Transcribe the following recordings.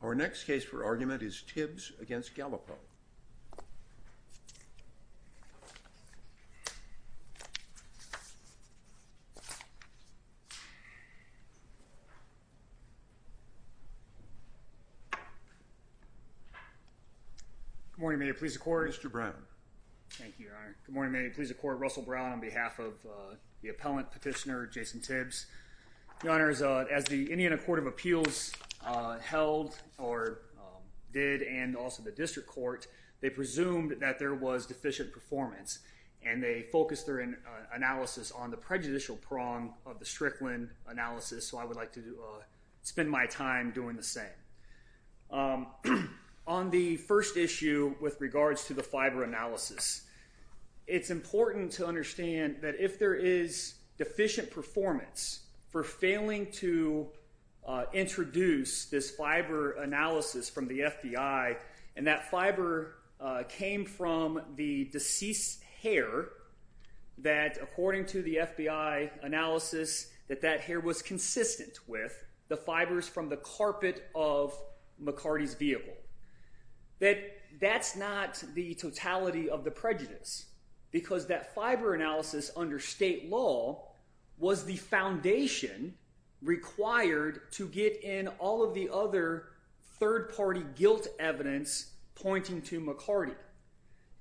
Our next case for argument is Tibbs v. Galipeau. Good morning. May it please the Court. Mr. Brown. Thank you, Your Honor. Good morning. May it please the Court. Russell Brown on behalf of the appellant petitioner, Jason Tibbs. Your Honor, as the Indiana Court of Appeals held, or did, and also the district court, they presumed that there was deficient performance. And they focused their analysis on the prejudicial prong of the Strickland analysis, so I would like to spend my time doing the same. On the first issue with regards to the fiber analysis, it's important to understand that if there is deficient performance for failing to introduce this fiber analysis from the FBI, and that fiber came from the deceased's hair, that according to the FBI analysis, that that hair was consistent with the fibers from the carpet of McCarty's vehicle. That that's not the totality of the prejudice, because that fiber analysis under state law was the foundation required to get in all of the other third-party guilt evidence pointing to McCarty.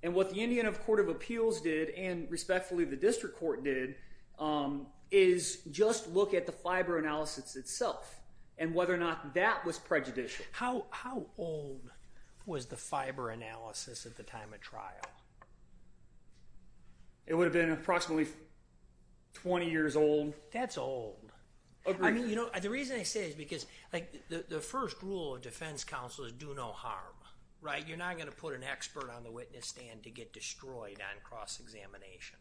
And what the Indiana Court of Appeals did, and respectfully the district court did, is just look at the fiber analysis itself, and whether or not that was prejudicial. How old was the fiber analysis at the time of trial? It would have been approximately 20 years old. That's old. I mean, you know, the reason I say it is because, like, the first rule of defense counsel is do no harm, right? You're not going to put an expert on the witness stand to get destroyed on cross-examination.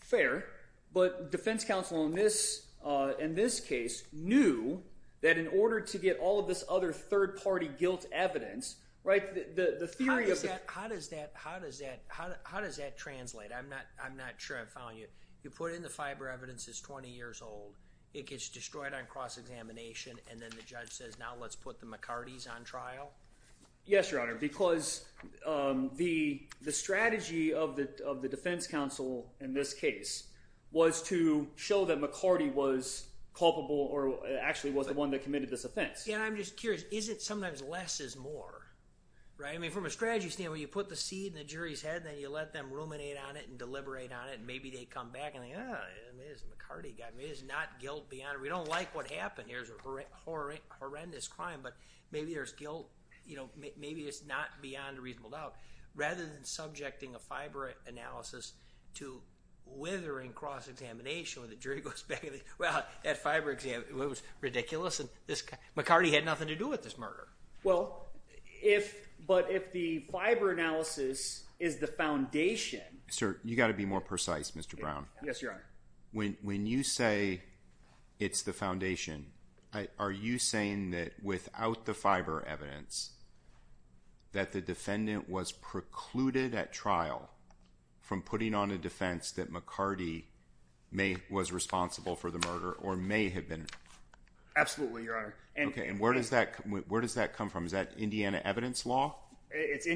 Fair, but defense counsel in this case knew that in order to get all of this other third-party guilt evidence, right, the theory of the— How does that translate? I'm not sure I'm following you. You put in the fiber evidence that's 20 years old. It gets destroyed on cross-examination, and then the judge says, now let's put the McCartys on trial? Yes, Your Honor, because the strategy of the defense counsel in this case was to show that McCarty was culpable or actually was the one that committed this offense. Yeah, and I'm just curious. Isn't sometimes less is more, right? I mean, from a strategy standpoint, you put the seed in the jury's head, and then you let them ruminate on it and deliberate on it, and maybe they come back and think, oh, it is McCarty. It is not guilt beyond—we don't like what happened. Here's a horrendous crime, but maybe there's guilt. Maybe it's not beyond a reasonable doubt. Rather than subjecting a fiber analysis to withering cross-examination where the jury goes back and thinks, well, that fiber was ridiculous, and McCarty had nothing to do with this murder. Well, but if the fiber analysis is the foundation— Sir, you've got to be more precise, Mr. Brown. Yes, Your Honor. When you say it's the foundation, are you saying that without the fiber evidence that the defendant was precluded at trial from putting on a defense that McCarty was responsible for the murder or may have been? Absolutely, Your Honor. Okay, and where does that come from? Is that Indiana evidence law? Yes,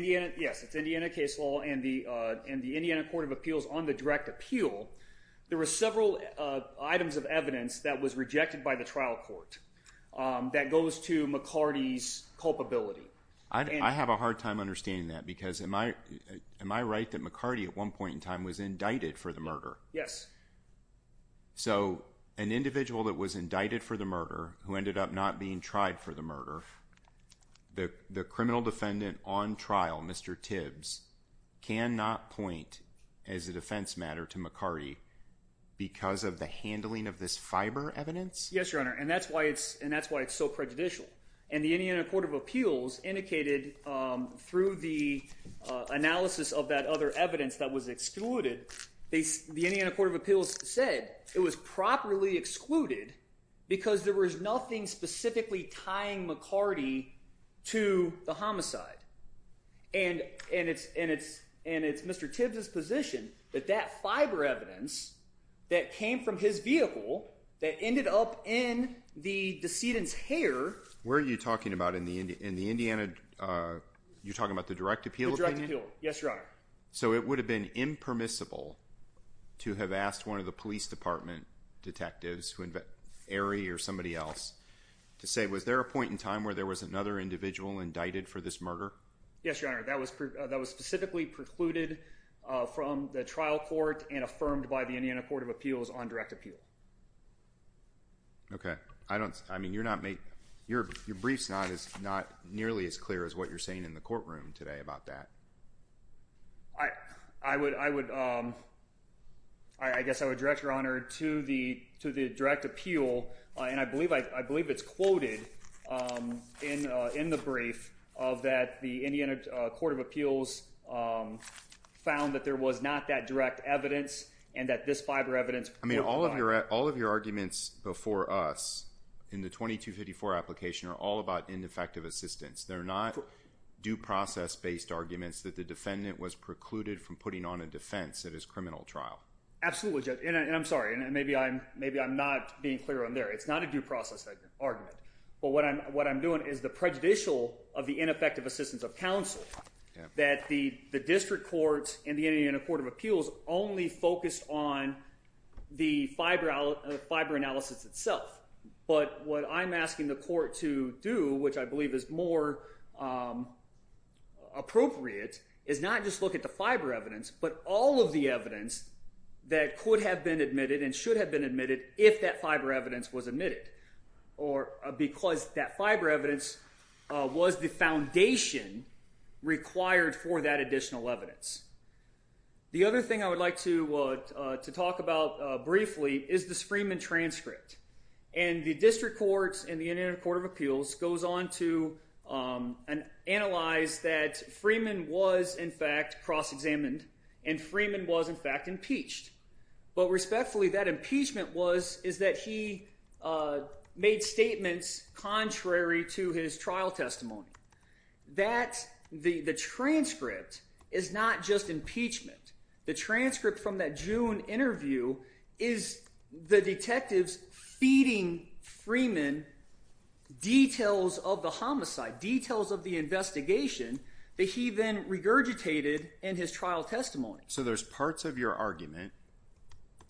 it's Indiana case law, and the Indiana Court of Appeals, on the direct appeal, there were several items of evidence that was rejected by the trial court that goes to McCarty's culpability. I have a hard time understanding that because am I right that McCarty at one point in time was indicted for the murder? Yes. So an individual that was indicted for the murder who ended up not being tried for the murder, the criminal defendant on trial, Mr. Tibbs, cannot point as a defense matter to McCarty because of the handling of this fiber evidence? Yes, Your Honor, and that's why it's so prejudicial. And the Indiana Court of Appeals indicated through the analysis of that other evidence that was excluded, the Indiana Court of Appeals said it was properly excluded because there was nothing specifically tying McCarty to the homicide. And it's Mr. Tibbs' position that that fiber evidence that came from his vehicle that ended up in the decedent's hair. Where are you talking about? In the Indiana, you're talking about the direct appeal? The direct appeal, yes, Your Honor. So it would have been impermissible to have asked one of the police department detectives, Arie or somebody else, to say was there a point in time where there was another individual indicted for this murder? Yes, Your Honor, that was specifically precluded from the trial court and affirmed by the Indiana Court of Appeals on direct appeal. Okay. I mean, your brief's not nearly as clear as what you're saying in the courtroom today about that. I guess I would direct, Your Honor, to the direct appeal, and I believe it's quoted in the brief that the Indiana Court of Appeals found that there was not that direct evidence and that this fiber evidence. I mean, all of your arguments before us in the 2254 application are all about ineffective assistance. They're not due process-based arguments that the defendant was precluded from putting on a defense at his criminal trial. Absolutely. And I'm sorry, maybe I'm not being clear on there. It's not a due process argument. But what I'm doing is the prejudicial of the ineffective assistance of counsel that the district courts and the Indiana Court of Appeals only focused on the fiber analysis itself. But what I'm asking the court to do, which I believe is more appropriate, is not just look at the fiber evidence but all of the evidence that could have been admitted and should have been admitted if that fiber evidence was admitted or because that fiber evidence was the foundation required for that additional evidence. The other thing I would like to talk about briefly is this Freeman transcript. And the district courts and the Indiana Court of Appeals goes on to analyze that Freeman was, in fact, cross-examined and Freeman was, in fact, impeached. But respectfully, that impeachment is that he made statements contrary to his trial testimony. The transcript is not just impeachment. The transcript from that June interview is the detectives feeding Freeman details of the homicide, details of the investigation that he then regurgitated in his trial testimony. So there's parts of your argument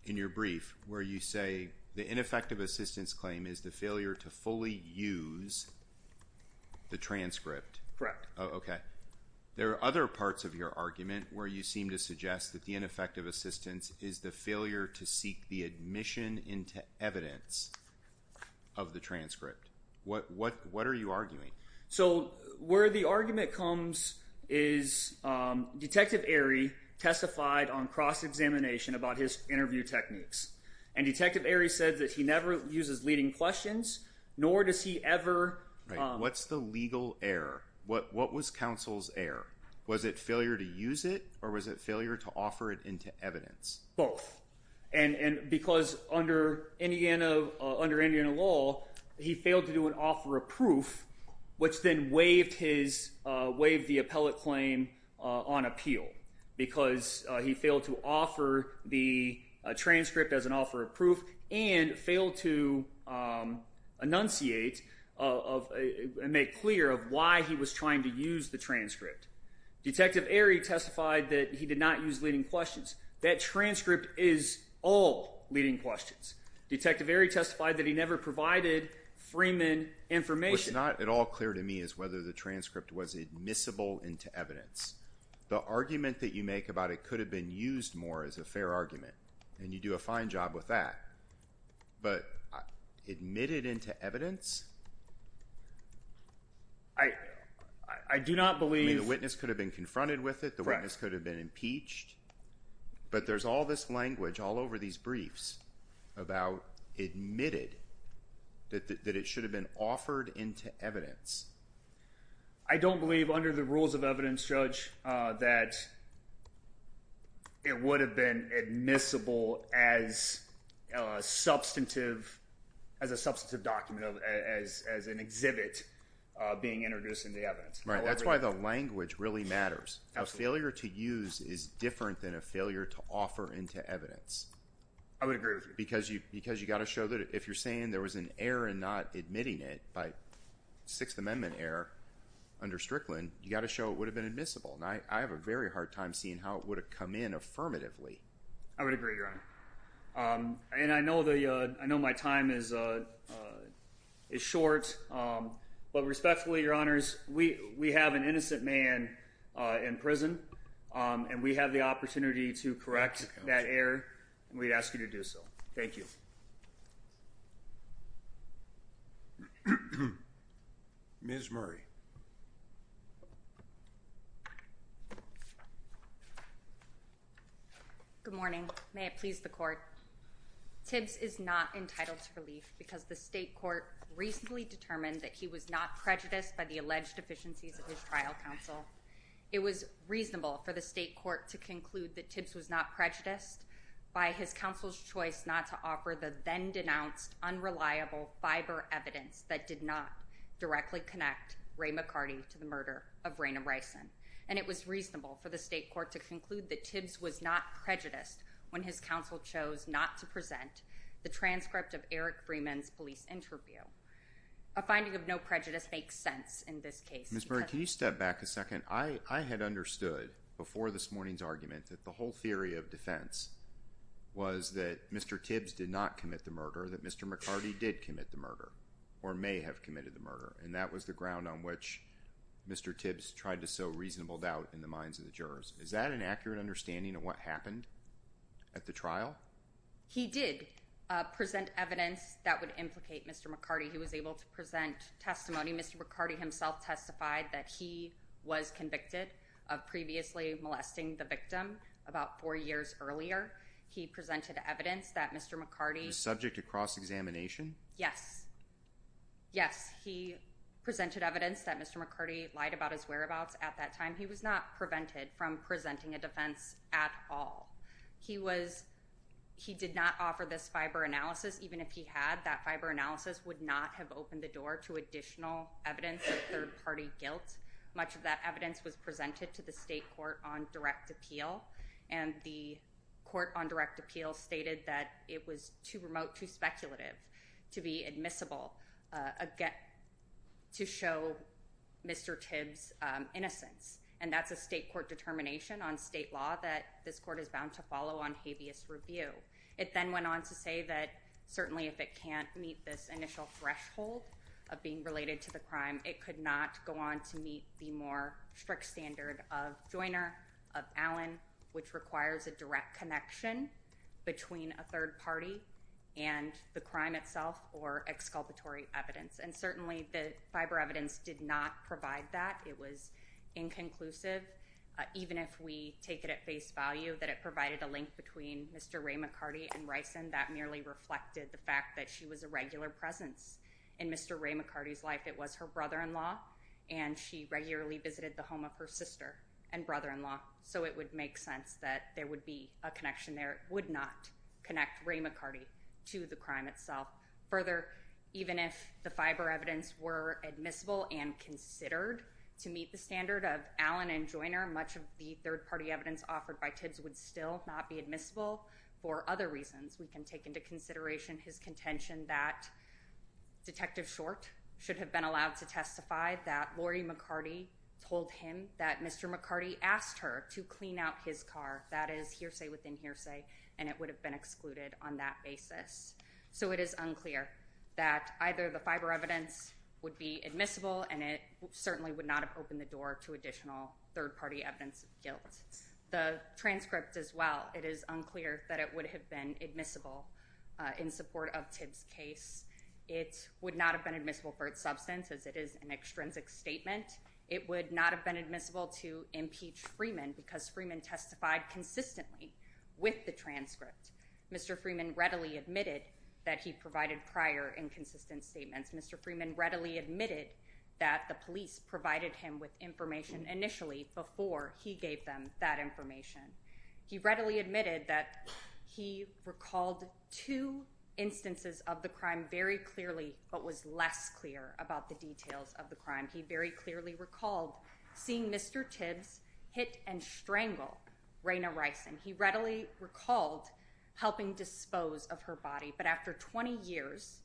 in your brief where you say the ineffective assistance claim is the failure to fully use the transcript. Correct. Okay. There are other parts of your argument where you seem to suggest that the ineffective assistance is the failure to seek the admission into evidence of the transcript. What are you arguing? So where the argument comes is Detective Aery testified on cross-examination about his interview techniques. And Detective Aery said that he never uses leading questions, nor does he ever- Right. What's the legal error? What was counsel's error? Was it failure to use it or was it failure to offer it into evidence? Both. Because under Indiana law, he failed to do an offer of proof, which then waived the appellate claim on appeal because he failed to offer the transcript as an offer of proof and failed to enunciate and make clear of why he was trying to use the transcript. Detective Aery testified that he did not use leading questions. That transcript is all leading questions. Detective Aery testified that he never provided Freeman information. What's not at all clear to me is whether the transcript was admissible into evidence. The argument that you make about it could have been used more as a fair argument, and you do a fine job with that. But admitted into evidence? I do not believe- I mean, the witness could have been confronted with it. The witness could have been impeached. But there's all this language all over these briefs about admitted, that it should have been offered into evidence. I don't believe under the rules of evidence, Judge, that it would have been admissible as a substantive document, as an exhibit being introduced into evidence. That's why the language really matters. A failure to use is different than a failure to offer into evidence. I would agree with you. Because you've got to show that if you're saying there was an error in not admitting it by Sixth Amendment error under Strickland, you've got to show it would have been admissible. I have a very hard time seeing how it would have come in affirmatively. I would agree, Your Honor. And I know my time is short, but respectfully, Your Honors, we have an innocent man in prison, and we have the opportunity to correct that error, and we ask you to do so. Thank you. Ms. Murray. Good morning. May it please the Court. Tibbs is not entitled to relief because the state court recently determined that he was not prejudiced by the alleged deficiencies of his trial counsel. It was reasonable for the state court to conclude that Tibbs was not prejudiced by his counsel's choice not to offer the then-denounced unreliable fiber evidence that did not directly connect Ray McCarty to the murder of Raina Bryson. And it was reasonable for the state court to conclude that Tibbs was not prejudiced when his counsel chose not to present the transcript of Eric Freeman's police interview. A finding of no prejudice makes sense in this case. Ms. Murray, can you step back a second? I had understood before this morning's argument that the whole theory of defense was that Mr. Tibbs did not commit the murder, that Mr. McCarty did commit the murder or may have committed the murder, and that was the ground on which Mr. Tibbs tried to sow reasonable doubt in the minds of the jurors. Is that an accurate understanding of what happened at the trial? He did present evidence that would implicate Mr. McCarty. He was able to present testimony. Mr. McCarty himself testified that he was convicted of previously molesting the victim about four years earlier. He presented evidence that Mr. McCarty... Was subject to cross-examination? Yes. Yes. He presented evidence that Mr. McCarty lied about his whereabouts at that time. He was not prevented from presenting a defense at all. He was... He did not offer this fiber analysis. Even if he had, that fiber analysis would not have opened the door to additional evidence of third-party guilt. Much of that evidence was presented to the state court on direct appeal, and the court on direct appeal stated that it was too remote, too speculative to be admissible to show Mr. Tibbs' innocence, and that's a state court determination on state law that this court has gone to follow on habeas review. It then went on to say that certainly if it can't meet this initial threshold of being related to the crime, it could not go on to meet the more strict standard of Joiner, of Allen, which requires a direct connection between a third party and the crime itself or exculpatory evidence. And certainly the fiber evidence did not provide that. It was inconclusive. Even if we take it at face value that it provided a link between Mr. Ray McCarty and Rison, that merely reflected the fact that she was a regular presence in Mr. Ray McCarty's life. It was her brother-in-law, and she regularly visited the home of her sister and brother-in-law, so it would make sense that there would be a connection there. It would not connect Ray McCarty to the crime itself. Further, even if the fiber evidence were admissible and considered to meet the standard of Joiner, much of the third party evidence offered by Tibbs would still not be admissible for other reasons. We can take into consideration his contention that Detective Short should have been allowed to testify that Lori McCarty told him that Mr. McCarty asked her to clean out his car. That is hearsay within hearsay, and it would have been excluded on that basis. So it is unclear that either the fiber evidence would be admissible, and it certainly would not have opened the door to additional third party evidence of guilt. The transcript as well, it is unclear that it would have been admissible in support of Tibbs' case. It would not have been admissible for its substance, as it is an extrinsic statement. It would not have been admissible to impeach Freeman because Freeman testified consistently with the transcript. Mr. Freeman readily admitted that he provided prior inconsistent statements. Mr. Freeman readily admitted that the police provided him with information initially before he gave them that information. He readily admitted that he recalled two instances of the crime very clearly, but was less clear about the details of the crime. He very clearly recalled seeing Mr. Tibbs hit and strangle Raina Rison. He readily recalled helping dispose of her body, but after 20 years,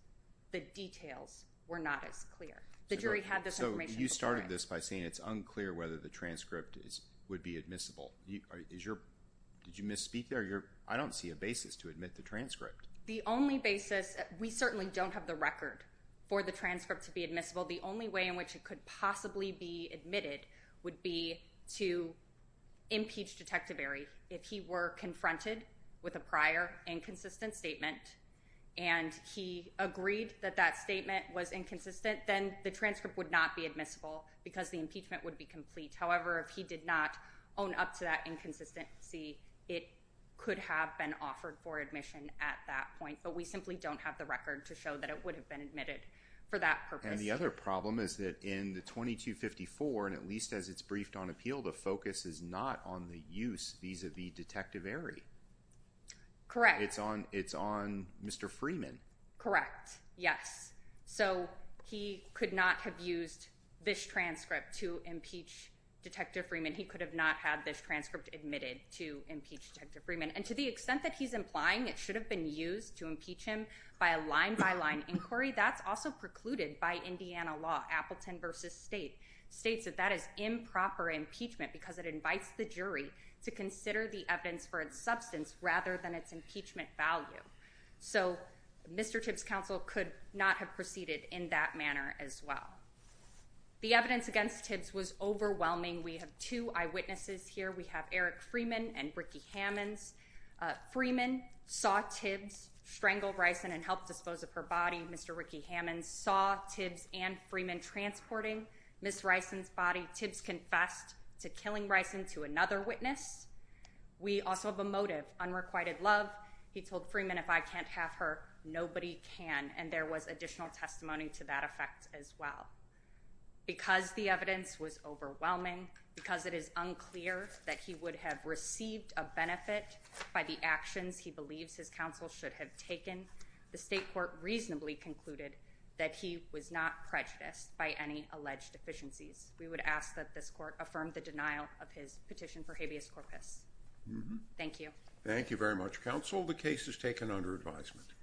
the details were not as clear. The jury had this information. So you started this by saying it's unclear whether the transcript would be admissible. Did you misspeak there? I don't see a basis to admit the transcript. The only basis, we certainly don't have the record for the transcript to be admissible. The only way in which it could possibly be admitted would be to impeach Detective Barry. If he were confronted with a prior inconsistent statement and he agreed that that statement was inconsistent, then the transcript would not be admissible because the impeachment would be complete. However, if he did not own up to that inconsistency, it could have been offered for admission at that point, but we simply don't have the record to show that it would have been admitted for that purpose. And the other problem is that in the 2254, and at least as it's briefed on appeal, the focus is not on the use vis-a-vis Detective Barry. Correct. It's on Mr. Freeman. Correct. Yes. So he could not have used this transcript to impeach Detective Freeman. He could have not had this transcript admitted to impeach Detective Freeman. And to the extent that he's implying, it should have been used to impeach him by a line by line inquiry. That's also precluded by Indiana law. Appleton versus state states that that is improper impeachment because it invites the jury to consider the evidence for its substance rather than its impeachment value. So Mr. Tibbs counsel could not have proceeded in that manner as well. The evidence against tips was overwhelming. We have two eyewitnesses here. We have Eric Freeman and Ricky Hammonds. Freeman saw Tibbs strangled rice and, and helped dispose of her body. Mr. Ricky Hammonds saw Tibbs and Freeman transporting miss Rice's body tips confessed to killing rice into another witness. We also have a motive unrequited love. He told Freeman if I can't have her, nobody can and there was additional testimony to that effect as well. Because the evidence was overwhelming because it is unclear that he would have received a benefit by the actions. He believes his counsel should have taken the state court reasonably concluded that he was not prejudiced by any alleged deficiencies. We would ask that this court affirmed the denial of his petition for habeas corpus. Thank you. Thank you very much. Counsel. The case has taken under advisement.